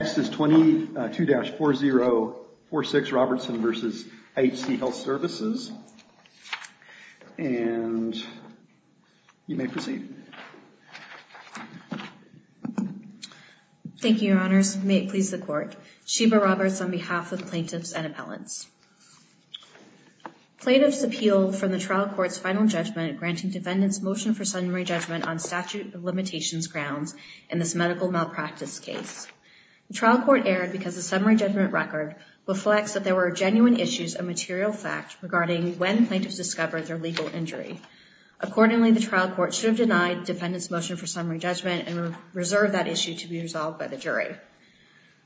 Next is 22-4046 Robertson v. IHC Health Services. And you may proceed. Thank you, Your Honors. May it please the Court. Sheba Roberts on behalf of plaintiffs and appellants. Plaintiffs appeal from the trial court's final judgment granting defendant's motion for summary judgment. The trial court erred because the summary judgment record reflects that there were genuine issues and material facts regarding when plaintiffs discovered their legal injury. Accordingly, the trial court should have denied defendant's motion for summary judgment and reserved that issue to be resolved by the jury.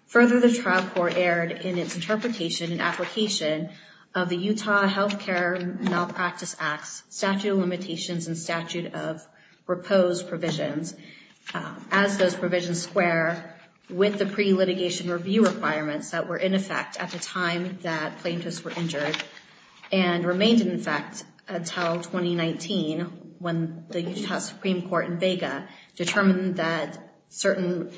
Further, the trial court erred in its interpretation and application of the Utah Health Care Malpractice Act's statute of limitations and statute of proposed provisions as those provisions square with the pre-litigation review requirements that were in effect at the time that plaintiffs were injured and remained in effect until 2019, when the Utah Supreme Court in Vega determined that certain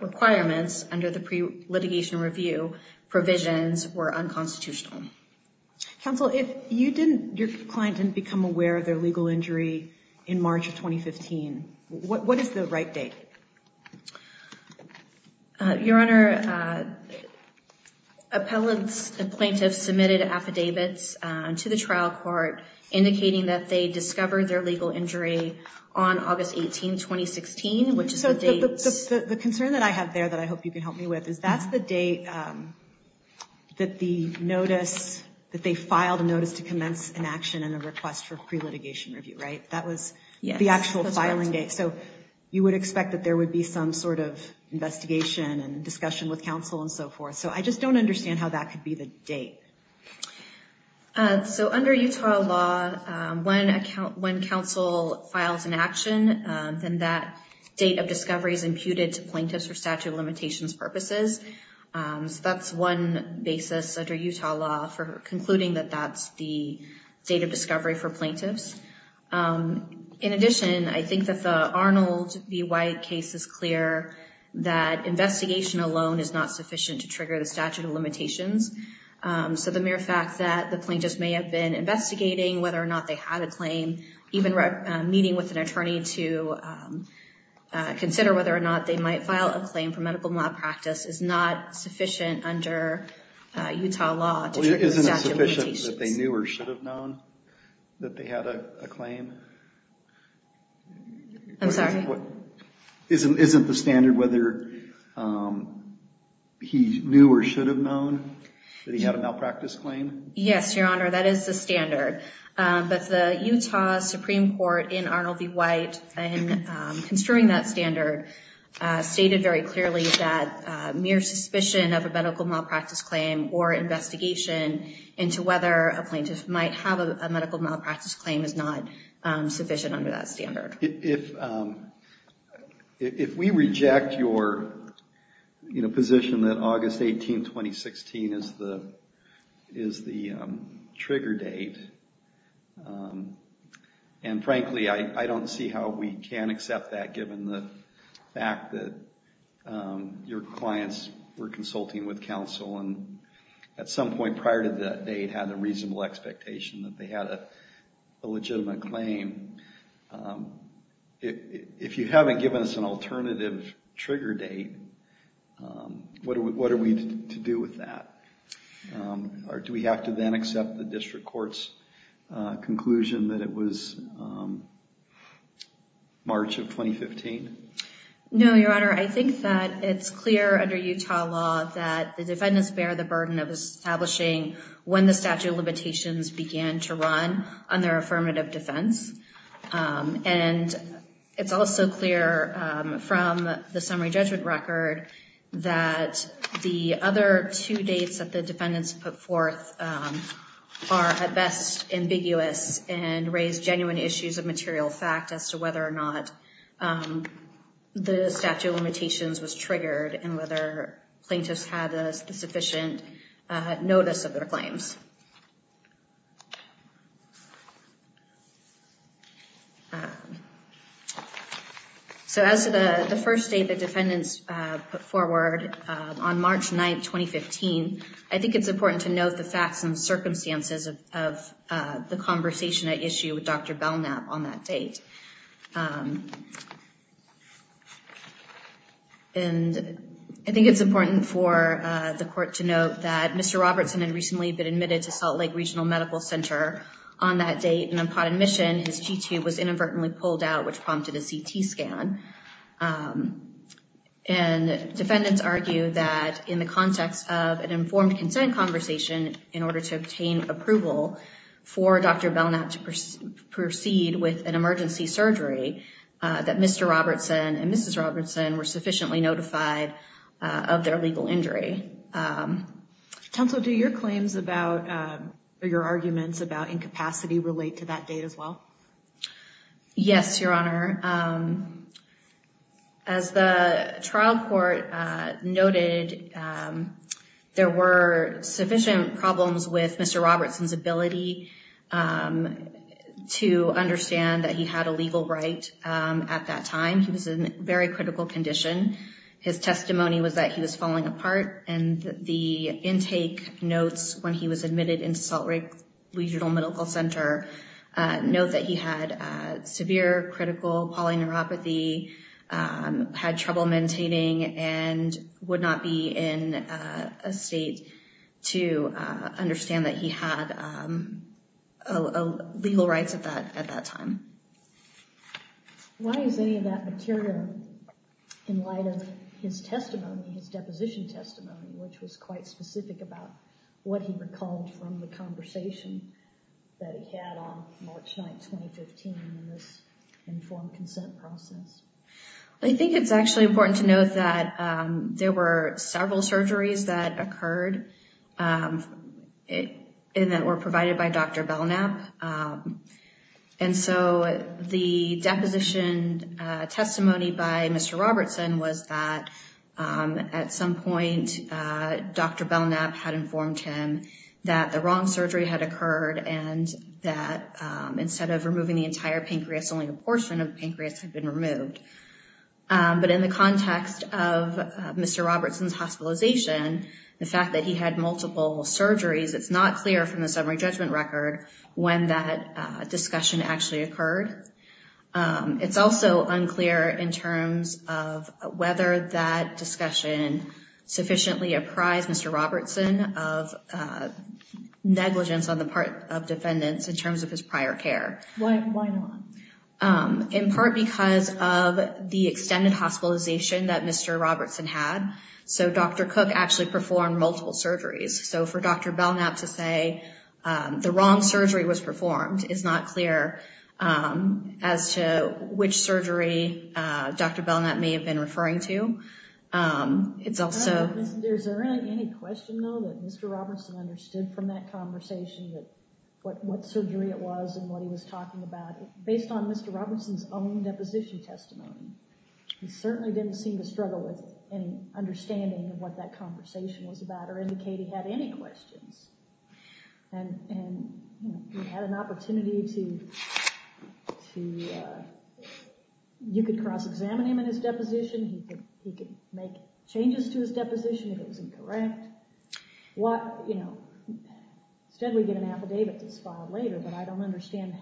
requirements under the pre-litigation review provisions were unconstitutional. Counsel, if your client didn't become aware of their legal injury in March of 2015, what is the right date? Your Honor, appellants and plaintiffs submitted affidavits to the trial court indicating that they discovered their legal injury on August 18, 2016, which is the date... So the concern that I have there that I hope you can help me with is that's the date that the notice, that they filed a notice to commence an action and a request for pre-litigation review, right? That was the actual filing date. So you would expect that there would be some sort of investigation and discussion with counsel and so forth. So I just don't understand how that could be the date. So under Utah law, when counsel files an action, then that date of discovery is imputed to plaintiffs for statute of limitations purposes. So that's one basis under Utah law for concluding that that's the date of discovery for plaintiffs. In addition, I think that the Arnold v. White case is clear that investigation alone is not sufficient to trigger the statute of limitations. So the mere fact that the plaintiffs may have been investigating whether or not they had a claim, even meeting with an attorney to consider whether or not they might file a claim under Utah law to trigger the statute of limitations. Isn't it sufficient that they knew or should have known that they had a claim? I'm sorry? Isn't the standard whether he knew or should have known that he had a malpractice claim? Yes, Your Honor, that is the standard. But the Utah Supreme Court in Arnold v. White in construing that standard stated very clearly that mere suspicion of a medical malpractice claim or investigation into whether a plaintiff might have a medical malpractice claim is not sufficient under that standard. If we reject your position that August 18, 2016 is the trigger date, and frankly, I don't see how we can accept that given the fact that your clients were consulting with counsel and at some point prior to that date had a reasonable expectation that they had a legitimate claim. If you haven't given us an alternative trigger date, what are we to do with that? Or do we have to then accept the district court's conclusion that it was March of 2015? No, Your Honor. I think that it's clear under Utah law that the defendants bear the burden of establishing when the statute of limitations began to run on their affirmative defense. And it's also clear from the summary judgment record that the other two dates that the defendants put forth are at best ambiguous and raise genuine issues of material fact as to whether or not the statute of limitations was triggered and whether plaintiffs had a sufficient notice of their claims. So as to the first date the defendants put forward on March 9, 2015, I think it's important to note the facts and circumstances of the conversation at issue with Dr. Belknap on that date. And I think it's important for the court to note that Mr. Robertson had recently been admitted to Salt Lake Regional Medical Center on that date and upon admission, his G-tube was inadvertently pulled out, which prompted a CT scan. And defendants argue that in the investigation in order to obtain approval for Dr. Belknap to proceed with an emergency surgery, that Mr. Robertson and Mrs. Robertson were sufficiently notified of their legal injury. Counsel, do your claims about or your arguments about incapacity relate to that date as well? Yes, Your Honor. As the trial court noted, there were sufficient problems with Mr. Robertson's ability to understand that he had a legal right at that time. He was in very critical condition. His testimony was that he was falling apart and the intake notes when he was admitted into Salt Lake Regional Medical Center note that he had severe critical polyneuropathy, had trouble maintaining, and would not be in a state to understand that he had legal rights at that time. Why is any of that material in light of his testimony, his deposition testimony, which was quite specific about what he recalled from the conversation that he had on March 9, 2015 in this informed consent process? I think it's actually important to note that there were several surgeries that occurred and that were provided by Dr. Belknap. And so the deposition testimony by Mr. Robertson was that at some point Dr. Belknap had informed him that the wrong surgery had occurred and that instead of removing the entire pancreas, only a portion of the pancreas had been removed. But in the context of Mr. Robertson's hospitalization, the fact that he had multiple surgeries, it's not clear from the summary judgment record when that discussion actually occurred. It's also unclear in terms of whether that discussion sufficiently apprised Mr. Robertson of negligence on the part of defendants in terms of his prior care. Why not? In part because of the extended hospitalization that Mr. Robertson had. So Dr. Cook actually performed multiple surgeries. So for Dr. Belknap to say the wrong surgery was performed is not clear as to which surgery Dr. Belknap may have been referring to. Is there any question though that Mr. Robertson understood from that conversation that what surgery it was and what he was talking about? Based on Mr. Robertson's own deposition testimony, he certainly didn't seem to struggle with any understanding of what that conversation was about or indicate he had any questions. And he had an opportunity to, you could cross-examine him in his deposition. He could make changes to his deposition if it was incorrect. What, you know, instead we get an affidavit that's filed later, but I don't understand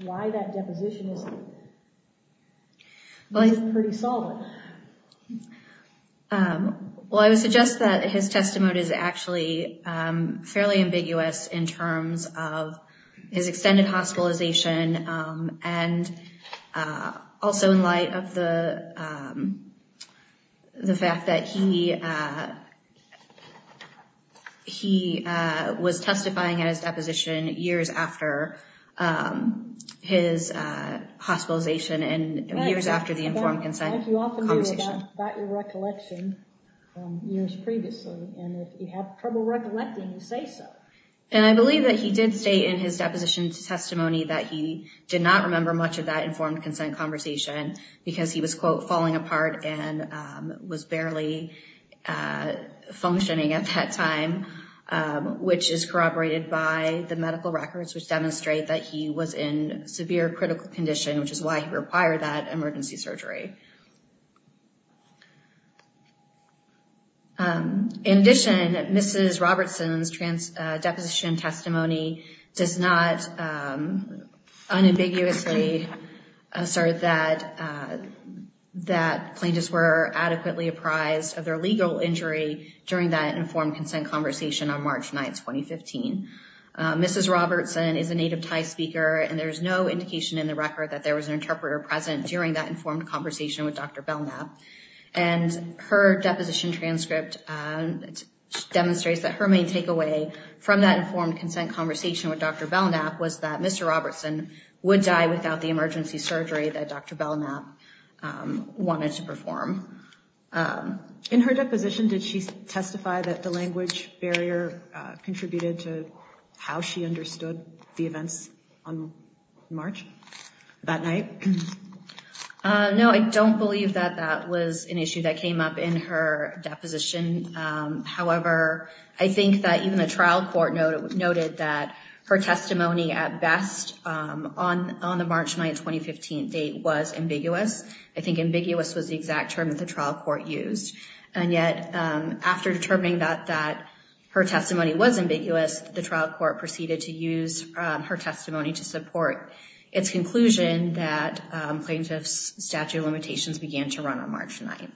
why that deposition isn't pretty solid. Well, I would suggest that his testimony is actually fairly ambiguous in terms of his extended hospitalization and also in light of the fact that he was testifying at his deposition years after his hospitalization and years after the informed consent conversation. As you often do, it's about your recollection from years previously. And if you have trouble recollecting, you say so. And I believe that he did state in his deposition testimony that he did not remember much of that informed consent conversation because he was, quote, falling apart and was barely functioning at that time, which is corroborated by the medical records, which demonstrate that he was in severe critical condition, which is why he required that emergency surgery. In addition, Mrs. Robertson's deposition testimony does not unambiguously assert that plaintiffs were adequately apprised of their legal injury during that informed consent conversation on March 9, 2015. Mrs. Robertson is a native Thai speaker, and there's no indication in the record that there was an interpreter present during that informed conversation with Dr. Belknap. And her deposition transcript demonstrates that her main takeaway from that was that she did not remember much about the emergency surgery that Dr. Belknap wanted to perform. In her deposition, did she testify that the language barrier contributed to how she understood the events on March that night? No, I don't believe that that was an issue that came up in her deposition. However, I think that even the trial court noted that her testimony at best on the March 9, 2015 date was ambiguous. I think ambiguous was the exact term that the trial court used. And yet, after determining that her testimony was ambiguous, the trial court proceeded to use her testimony to support its conclusion that plaintiff's statute of limitations began to occur.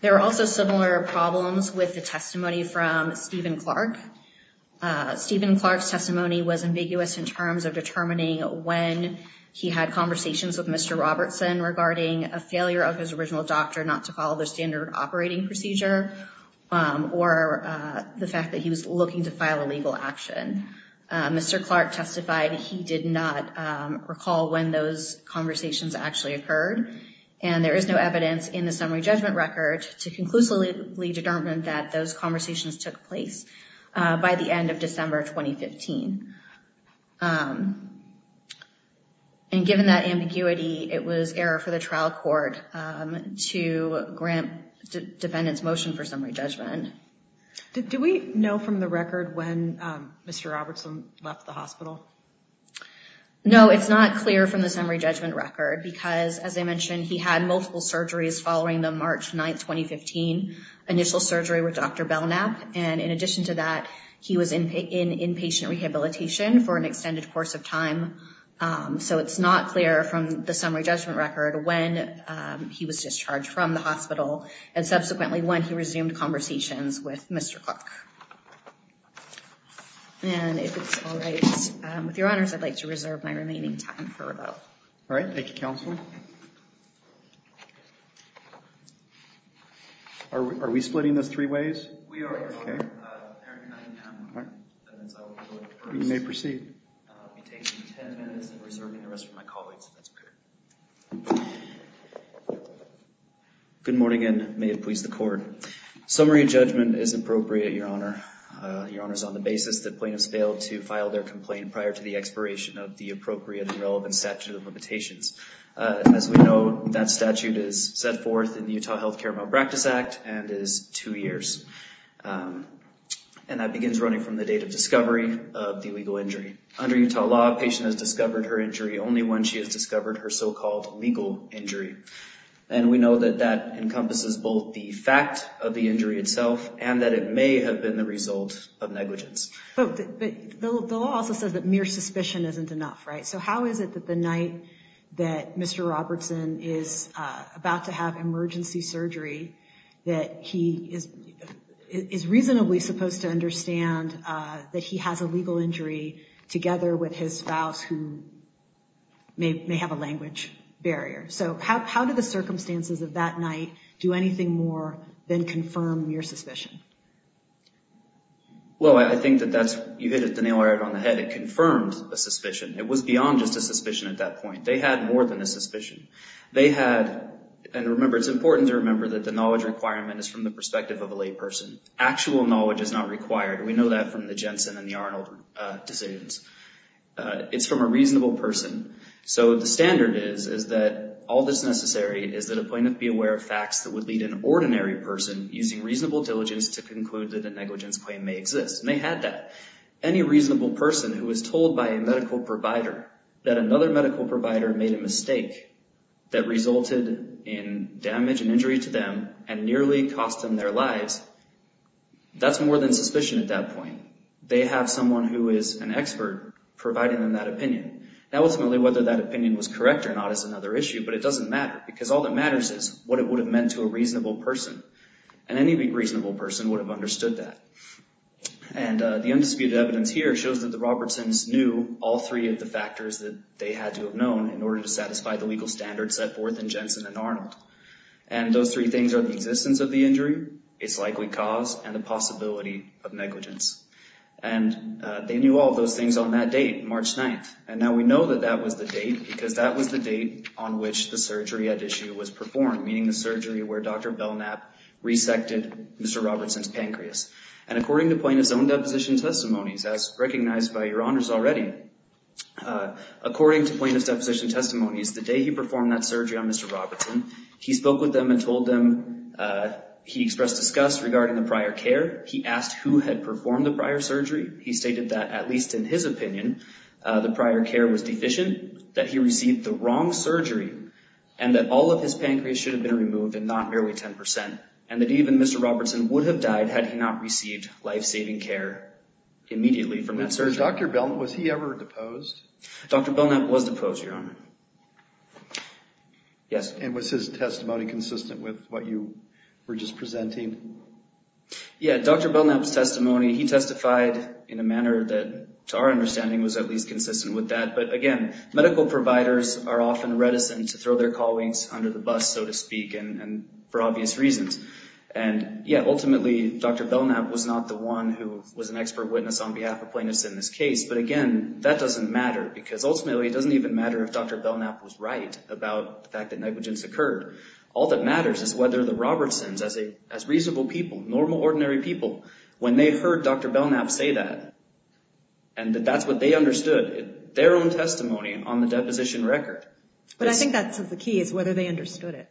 There were also similar problems with the testimony from Stephen Clark. Stephen Clark's testimony was ambiguous in terms of determining when he had conversations with Mr. Robertson regarding a failure of his original doctor not to follow the standard operating procedure, or the fact that he was looking to file a legal action. Mr. Clark testified he did not recall when those conversations actually occurred, and there is no evidence in the summary judgment record to conclusively determine that those conversations took place by the end of December 2015. And given that ambiguity, it was error for the trial court to grant defendants motion for summary judgment. Do we know from the record when Mr. Robertson left the hospital? No, it's not clear from the summary judgment record because, as I mentioned, he had multiple surgeries following the March 9, 2015 initial surgery with Dr. Belknap. And in addition to that, he was in inpatient rehabilitation for an extended course of time. So it's not clear from the summary judgment record when he was discharged from the hospital, and subsequently when he resumed conversations with Mr. Clark. And if it's all right with your honors, I'd like to reserve my remaining time for rebuttal. All right, thank you, counsel. Are we splitting this three ways? We are, your honor. You may proceed. I'll be taking 10 minutes and reserving the rest for my colleagues. That's better. Good morning, and may it please the court. Summary judgment is appropriate, your honor. Your honor's on the basis that plaintiffs failed to file their complaint prior to the expiration of the appropriate and relevant statute of limitations. As we know, that statute is set forth in the Utah Health Care Malpractice Act and is two years. And that begins running from the date of discovery of the illegal injury. Under Utah law, a patient has discovered her injury only when she has discovered her so-called legal injury. And we know that that encompasses both the fact of the injury itself and that it may have been the result of negligence. But the law also says that mere suspicion isn't enough, right? So how is it that the night that Mr. Robertson is about to have emergency surgery, that he is reasonably supposed to understand that he has a legal injury together with his spouse who may have a language barrier? So how do the circumstances of that night do anything more than confirm mere suspicion? Well, I think that that's, you hit it the nail right on the head. It confirmed a suspicion. It was beyond just a suspicion at that point. They had more than a suspicion. They had, and remember, it's important to remember that the knowledge requirement is from the perspective of a lay person. Actual knowledge is not required. We know that from the Jensen and the Arnold decisions. It's from a reasonable person. So the standard is, is that all that's necessary is that a plaintiff be aware of facts that would lead an ordinary person using reasonable diligence to conclude that a negligence claim may exist. And they had that. Any reasonable person who was told by a medical provider that another medical provider made a mistake that resulted in damage and injury to them and nearly cost them their lives, that's more than suspicion at that point. They have someone who is an expert providing them that opinion. Now, ultimately, whether that opinion was correct or not is another issue, but it doesn't matter because all that matters is what it would have meant to a reasonable person. And any reasonable person would have understood that. And the undisputed evidence here shows that the Robertsons knew all three of the factors that they had to have known in order to satisfy the legal standards set forth in Jensen and Arnold. And those three things are the existence of the injury, its likely cause, and the possibility of negligence. And they knew all those things on that date, March 9th. And now we know that that was the date because that was the date on which the surgery at issue was performed, meaning the surgery where Dr. Belknap resected Mr. Robertson's pancreas. And according to plaintiff's own deposition testimonies, as recognized by your honors already, according to plaintiff's deposition testimonies, the day he performed that surgery on Mr. Robertson, he spoke with them and told them he expressed disgust regarding the prior care. He asked who had performed the prior surgery. He stated that, at least in his opinion, the prior care was deficient, that he received the wrong surgery, and that all of his pancreas should have been removed and not merely 10%, and that even Mr. Robertson would have died had he not received life-saving care immediately from that surgery. Dr. Belknap, was he ever deposed? Dr. Belknap was deposed, your honor. Yes. And was his testimony consistent with what you were just presenting? Yeah, Dr. Belknap's testimony, he testified in a manner that, to our understanding, was at least consistent with that. But again, medical providers are often reticent to throw their colleagues under the bus, so to speak, and for obvious reasons. And yeah, ultimately, Dr. Belknap was not the one who was an expert witness on behalf of plaintiffs in this case. But again, that doesn't matter, because ultimately, it doesn't even matter if Dr. Belknap was right about the fact that negligence occurred. All that matters is whether the Robertsons, as reasonable people, normal, ordinary people, when they heard Dr. Belknap say that, and that that's what they understood, their own testimony on the deposition record. But I think that's the key, is whether they understood it.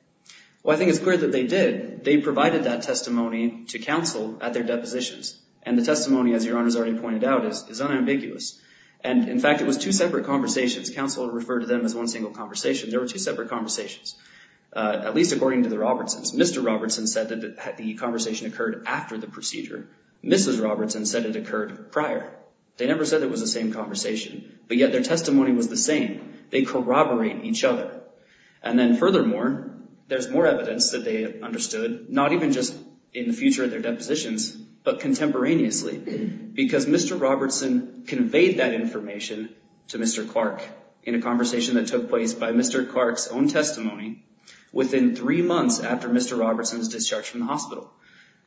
Well, I think it's clear that they did. They provided that testimony to counsel at their depositions. And the testimony, as your honor's already pointed out, is unambiguous. And in fact, it was two separate conversations. Counsel referred to them as one single conversation. There were two separate conversations, at least according to the Robertsons. Mr. Robertson said that the conversation occurred after the procedure. Mrs. Robertson said it occurred prior. They never said it was the same conversation, but yet their testimony was the same. They corroborate each other. And then furthermore, there's more evidence that they understood, not even just in the future of their depositions, but contemporaneously, because Mr. Robertson conveyed that information to Mr. Clark in a conversation that took place by Mr. Clark's own testimony within three months after Mr. Robertson's discharge from the hospital.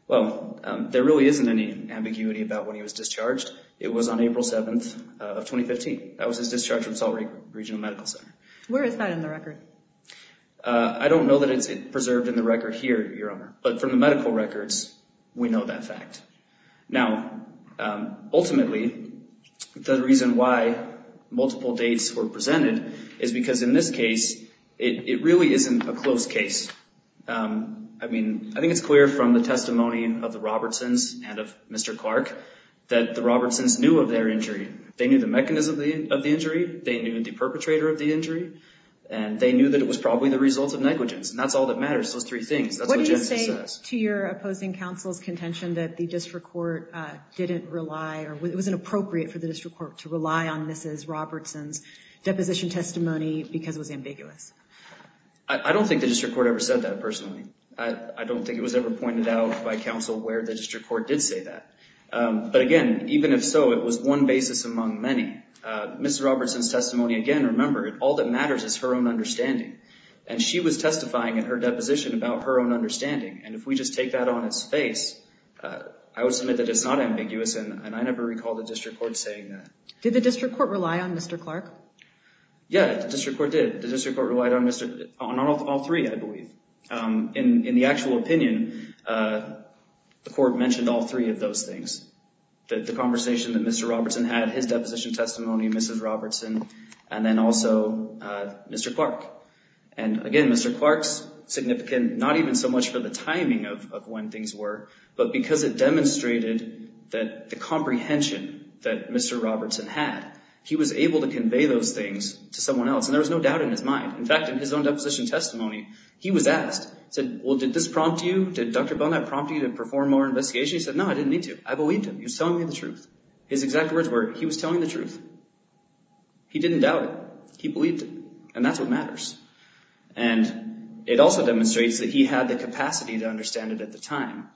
Well, there really isn't any ambiguity about when he was discharged. It was on April 7th of 2015. That was his discharge from Salt Lake Regional Medical Center. Where is that in the record? I don't know that it's preserved in the record here, your honor. But from the medical records, we know that fact. Now, ultimately, the reason why multiple dates were presented is because in this case, it really isn't a close case. I mean, I think it's clear from the testimony of the Robertsons and of Mr. Clark that the Robertsons knew of their injury. They knew the mechanism of the injury. They knew the perpetrator of the injury. And they knew that it was probably the result of negligence. And that's all that matters, those three things. That's what Genesis says. To your opposing counsel's contention that the district court didn't rely or it wasn't appropriate for the district court to rely on Mrs. Robertson's deposition testimony because it was ambiguous. I don't think the district court ever said that, personally. I don't think it was ever pointed out by counsel where the district court did say that. But again, even if so, it was one basis among many. Mrs. Robertson's testimony, again, remember, all that matters is her own understanding. And she was testifying in her deposition about her own understanding. And if we just take that on its face, I would submit that it's not ambiguous. And I never recall the district court saying that. Did the district court rely on Mr. Clark? Yeah, the district court did. The district court relied on all three, I believe. In the actual opinion, the court mentioned all three of those things. The conversation that Mr. Robertson had, his deposition testimony, Mrs. Robertson, and then also Mr. Clark. And again, Mr. Clark's significant, not even so much for the timing of when things were, but because it demonstrated that the comprehension that Mr. Robertson had, he was able to convey those things to someone else. And there was no doubt in his mind. In fact, in his own deposition testimony, he was asked, he said, well, did this prompt you? Did Dr. Bonaparte prompt you to perform more investigation? He said, no, I didn't need to. I believed him. He was telling me the truth. His exact words were, he was telling the truth. He didn't doubt it. He believed it. And that's what matters. And it also demonstrates that he had the capacity to understand it at the time.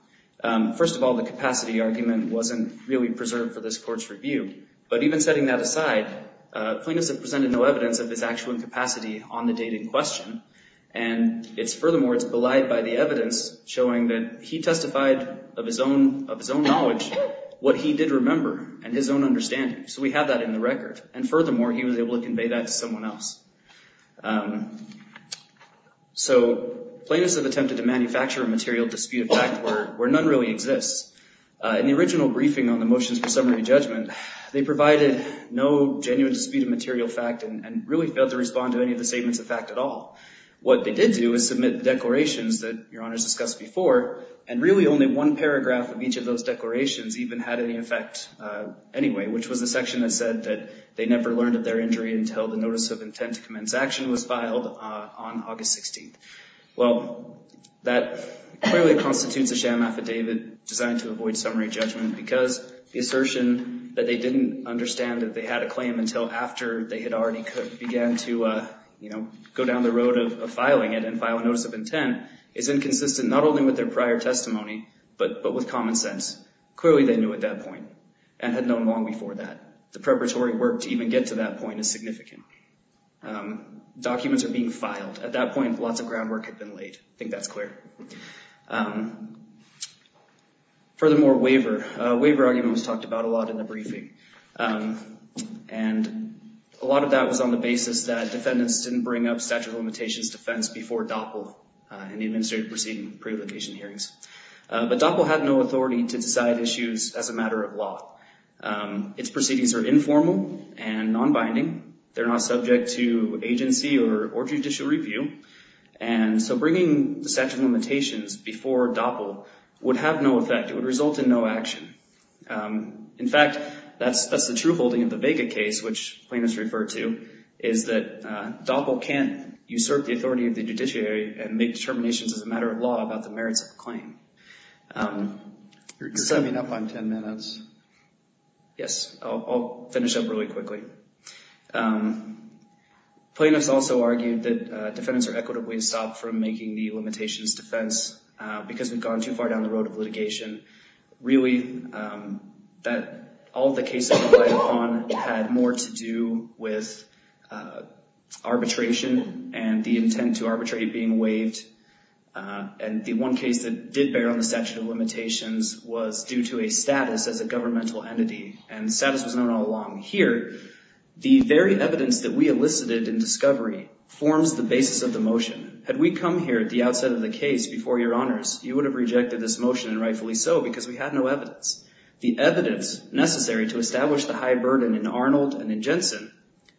First of all, the capacity argument wasn't really preserved for this court's review. But even setting that aside, plaintiffs have presented no evidence of his actual capacity on the date in question. And it's furthermore, it's belied by the evidence showing that he testified of his own knowledge, what he did remember and his own understanding. So we have that in the record. And furthermore, he was able to convey that to someone else. So plaintiffs have attempted to manufacture a material dispute of fact where none really exists. In the original briefing on the motions for summary judgment, they provided no genuine dispute of material fact and really failed to respond to any of the statements of fact at all. What they did do is submit the declarations that Your Honor's discussed before, and really only one paragraph of each of those declarations even had any effect anyway, which was the section that said that they never learned of their injury until the notice of intent to commence action was filed on August 16th. Well, that clearly constitutes a sham affidavit designed to avoid summary judgment because the assertion that they didn't understand that they had a claim until after they had already began to go down the road of filing it and file a notice of intent is inconsistent not only with their prior testimony, but with common sense. Clearly, they knew at that point and had known long before that. The preparatory work to even get to that point is significant. Documents are being filed. At that point, lots of groundwork had been laid. I think that's clear. Furthermore, waiver. Waiver argument was talked about a lot in the briefing. And a lot of that was on the basis that defendants didn't bring up statute of limitations defense before DOPL and the administrative proceeding pre-application hearings. But DOPL had no authority to decide issues as a matter of law. Its proceedings are informal and non-binding. They're not subject to agency or judicial review. And so bringing the statute of limitations before DOPL would have no effect. It would result in no action. In fact, that's the true holding of the Vega case, which plaintiffs referred to, is that DOPL can't usurp the authority of the judiciary and make determinations as a matter of law about the claim. You're coming up on 10 minutes. Yes, I'll finish up really quickly. Plaintiffs also argued that defendants are equitably stopped from making the limitations defense because we've gone too far down the road of litigation. Really, that all the cases had more to do with arbitration and the intent to arbitrate being waived. And the one case that did bear on the statute of limitations was due to a status as a governmental entity. And status was known all along. Here, the very evidence that we elicited in discovery forms the basis of the motion. Had we come here at the outset of the case before your honors, you would have rejected this motion and rightfully so because we had no evidence. The evidence necessary to establish the high burden in Arnold and in Jensen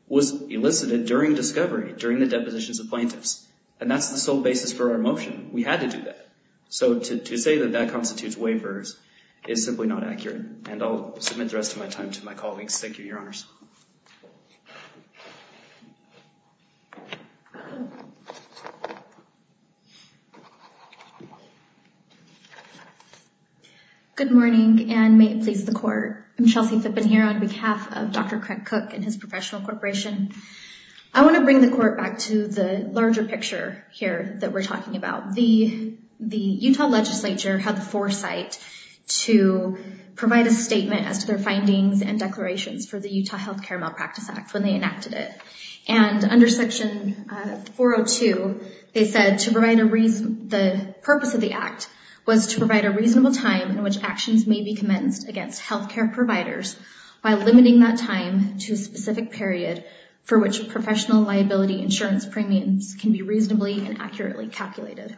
was elicited during discovery, during the depositions of plaintiffs. And that's the sole basis for our motion. We had to do that. So to say that that constitutes waivers is simply not accurate. And I'll submit the rest of my time to my colleagues. Thank you, your honors. Good morning and may it please the court. I'm Chelsea Phippen here on behalf of Dr. Cook and his professional corporation. I want to bring the court back to the larger picture here that we're talking about. The Utah legislature had the foresight to provide a statement as to their findings and declarations for the Utah Health Care Malpractice Act when they enacted it. And under section 402, they said to provide a reason, the purpose of the act was to provide a reasonable time in which actions may be commenced against health care providers by limiting that time to a specific period for which professional liability insurance premiums can be reasonably and accurately calculated.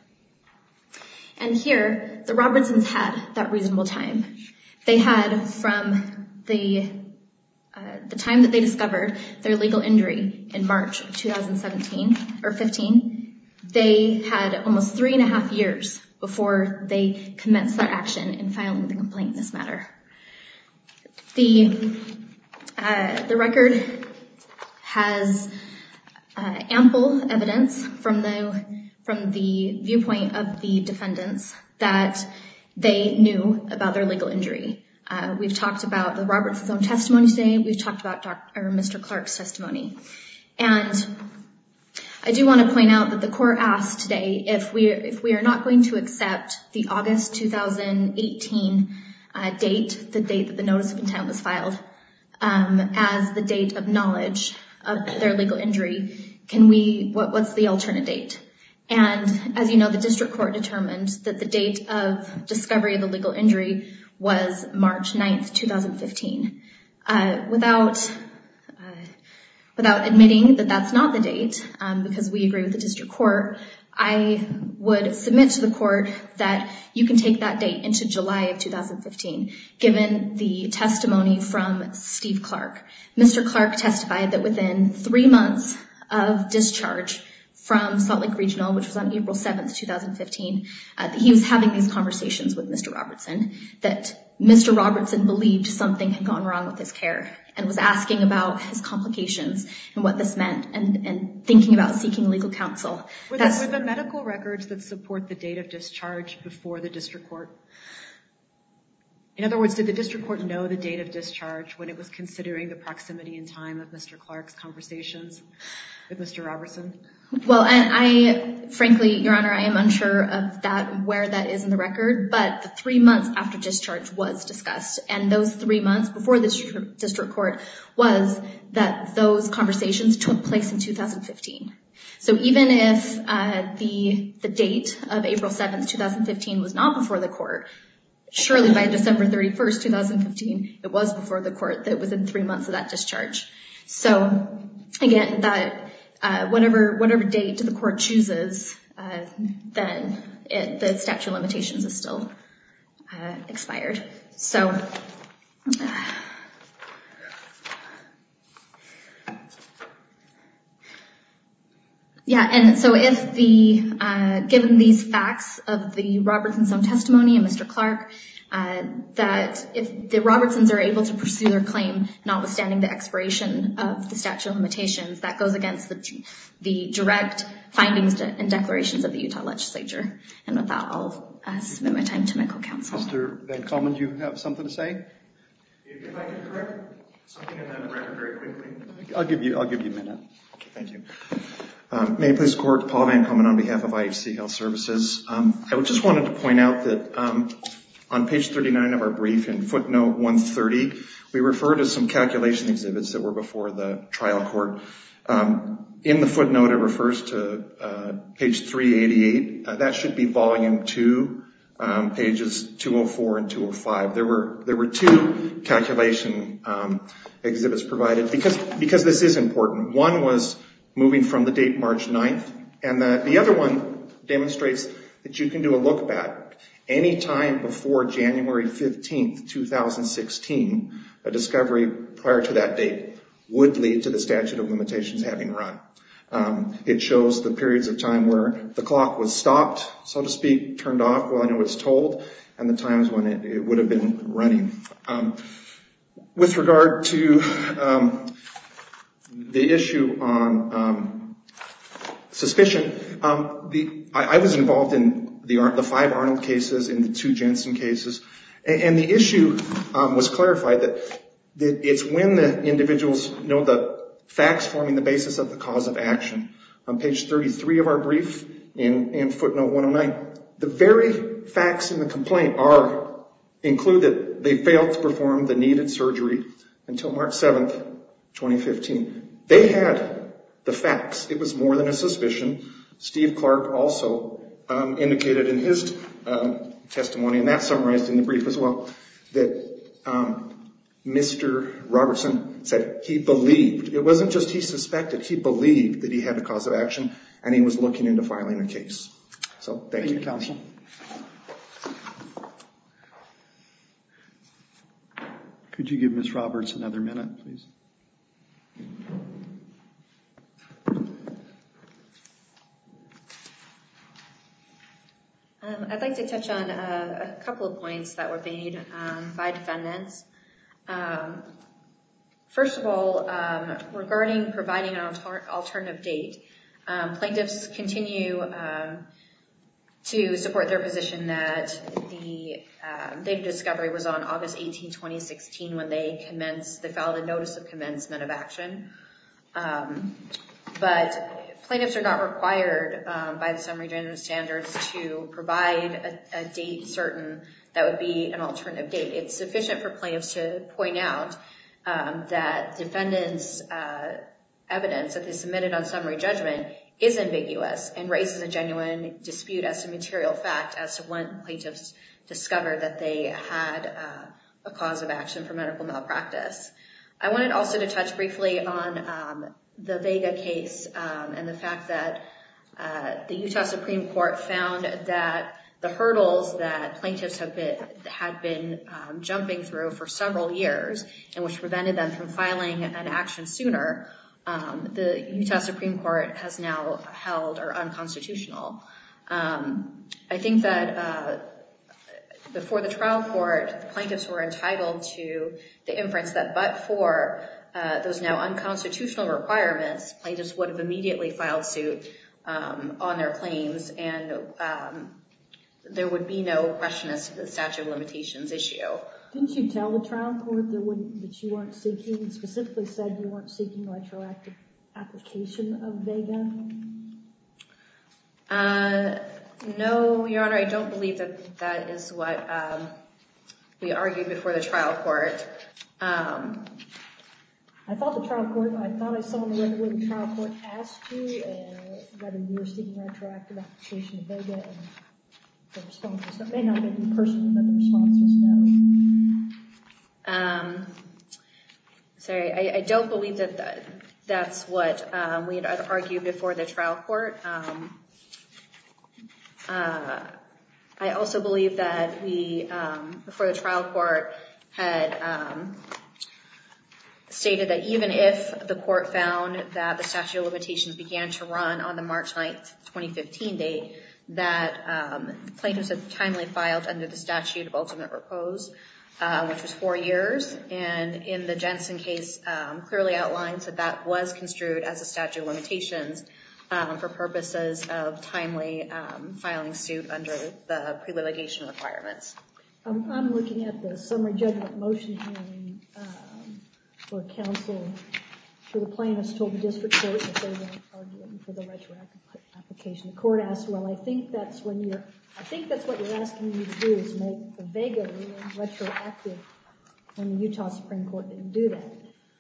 And here, the Robertsons had that reasonable time. They had from the time that they discovered their legal injury in March of 2017 or 15, they had almost three and a half years before they commenced their action and the record has ample evidence from the viewpoint of the defendants that they knew about their legal injury. We've talked about the Robertson's own testimony today. We've talked about Mr. Clark's testimony. And I do want to point out that the court asked today if we are not going to accept the August 2018 date, the date that the notice of intent was filed, as the date of knowledge of their legal injury, what's the alternate date? And as you know, the district court determined that the date of discovery of the legal injury was March 9, 2015. Without admitting that that's not the date, because we agree with the district court, I would submit to court that you can take that date into July of 2015 given the testimony from Steve Clark. Mr. Clark testified that within three months of discharge from Salt Lake Regional, which was on April 7, 2015, he was having these conversations with Mr. Robertson that Mr. Robertson believed something had gone wrong with his care and was asking about his complications and what this meant and thinking about seeking legal counsel. With the medical records that support the date of discharge before the district court. In other words, did the district court know the date of discharge when it was considering the proximity and time of Mr. Clark's conversations with Mr. Robertson? Well, I frankly, Your Honor, I am unsure of that where that is in the record, but the three months after discharge was discussed and those three months before this district court was that those conversations took place in 2015. So even if the date of April 7, 2015 was not before the court, surely by December 31, 2015, it was before the court that was in three months of that discharge. So again, that whatever date the court chooses, then the statute of limitations is still expired. So given these facts of the Robertson's own testimony and Mr. Clark, that if the Robertsons are able to pursue their claim, notwithstanding the expiration of the statute of limitations, that goes against the direct findings and declarations of the Utah District Court. Your Honor, do you have something to say? If I could correct something in that record very quickly. I'll give you, I'll give you a minute. Thank you. May it please the Court, Paul Van Komen on behalf of IHCL Services. I just wanted to point out that on page 39 of our brief in footnote 130, we refer to some calculation exhibits that were before the There were two calculation exhibits provided because this is important. One was moving from the date March 9th, and the other one demonstrates that you can do a look back any time before January 15, 2016. A discovery prior to that date would lead to the statute of limitations having run. It shows the periods of time where the clock was stopped, so to speak, turned off while I know it's told, and the times when it would have been running. With regard to the issue on suspicion, I was involved in the five Arnold cases, in the two Jensen cases, and the issue was clarified that it's when the individuals know the facts forming the basis of the cause of action. On page 33 of our brief in footnote 109, the very facts in the complaint include that they failed to perform the needed surgery until March 7, 2015. They had the facts. It was more than a suspicion. Steve Clark also indicated in his testimony, and that's summarized in the brief as well, that Mr. Robertson said he believed, it wasn't just he suspected, he believed that he had a cause of action and he was looking into filing a case. So, thank you counsel. Could you give Ms. Roberts another minute, please? I'd like to touch on a couple of points that were made by defendants. First of all, regarding providing an alternative date, plaintiffs continue to support their position that the date of discovery was on August 18, 2016 when they filed the complaint. But plaintiffs are not required by the summary judgment standards to provide a date certain that would be an alternative date. It's sufficient for plaintiffs to point out that defendants' evidence that they submitted on summary judgment is ambiguous and raises a genuine dispute as a material fact as to when plaintiffs discovered that they had a cause of action for medical The Vega case and the fact that the Utah Supreme Court found that the hurdles that plaintiffs had been jumping through for several years and which prevented them from filing an action sooner, the Utah Supreme Court has now held are unconstitutional. I think that before the trial court, the plaintiffs were entitled to the inference that but for those now unconstitutional requirements, plaintiffs would have immediately filed suit on their claims and there would be no question as to the statute of limitations issue. Didn't you tell the trial court that you weren't seeking, specifically said you weren't seeking retroactive application of Vega? No, Your Honor, I don't believe that that is what we argued before the trial court. I thought the trial court, I thought I saw in the letter where the trial court asked you whether you were seeking retroactive application of Vega and the responses. That may not have been personal, but the responses, no. Sorry, I don't believe that that's what we had argued before the trial court. I also believe that we, before the trial court, had stated that even if the court found that the statute of limitations began to run on the March 9th, 2015 date, that plaintiffs had timely filed under the statute of ultimate repose, which was four years. And in the Jensen case, clearly outlines that that was construed as a statute of limitations for purposes of timely filing suit under the pre-litigation requirements. I'm looking at the summary judgment motion hearing for counsel. The plaintiffs told the district court that they weren't arguing for the retroactive application. The court asked, well, I think that's when you're, I think that's what you're asking me to do is make the Vega retroactive. And the Utah Supreme Court didn't do that.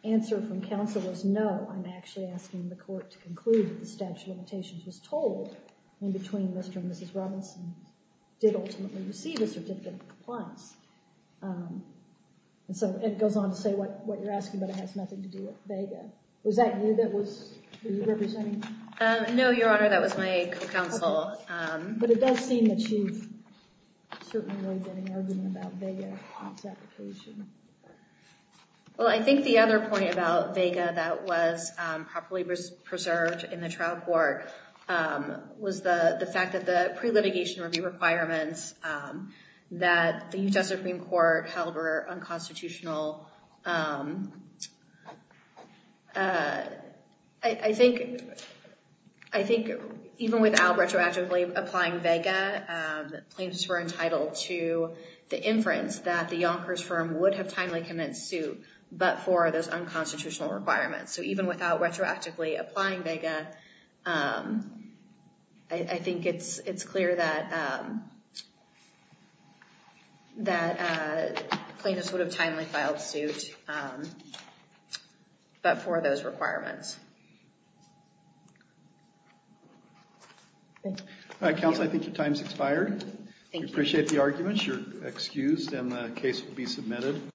The answer from counsel was no, I'm actually asking the court to conclude that the statute of limitations was told in between Mr. and Mrs. Robinson did ultimately receive a certificate of compliance. And so it goes on to say what you're asking, but it has nothing to do with Vega. Was that you that was representing? No, Your Honor, that was my counsel. But it does seem that she's certainly not getting arguing about Vega in this application. Well, I think the other point about Vega that was properly preserved in the trial court was the fact that the pre-litigation review requirements that the Utah Supreme Court held were unconstitutional. I think even without retroactively applying Vega, plaintiffs were entitled to the inference that the Yonkers firm would have timely commenced suit, but for those unconstitutional requirements. So even without retroactively applying Vega, I think it's clear that plaintiffs would have timely commenced suit, but for those requirements. All right, counsel, I think your time has expired. We appreciate the arguments. You're excused and the case will be submitted.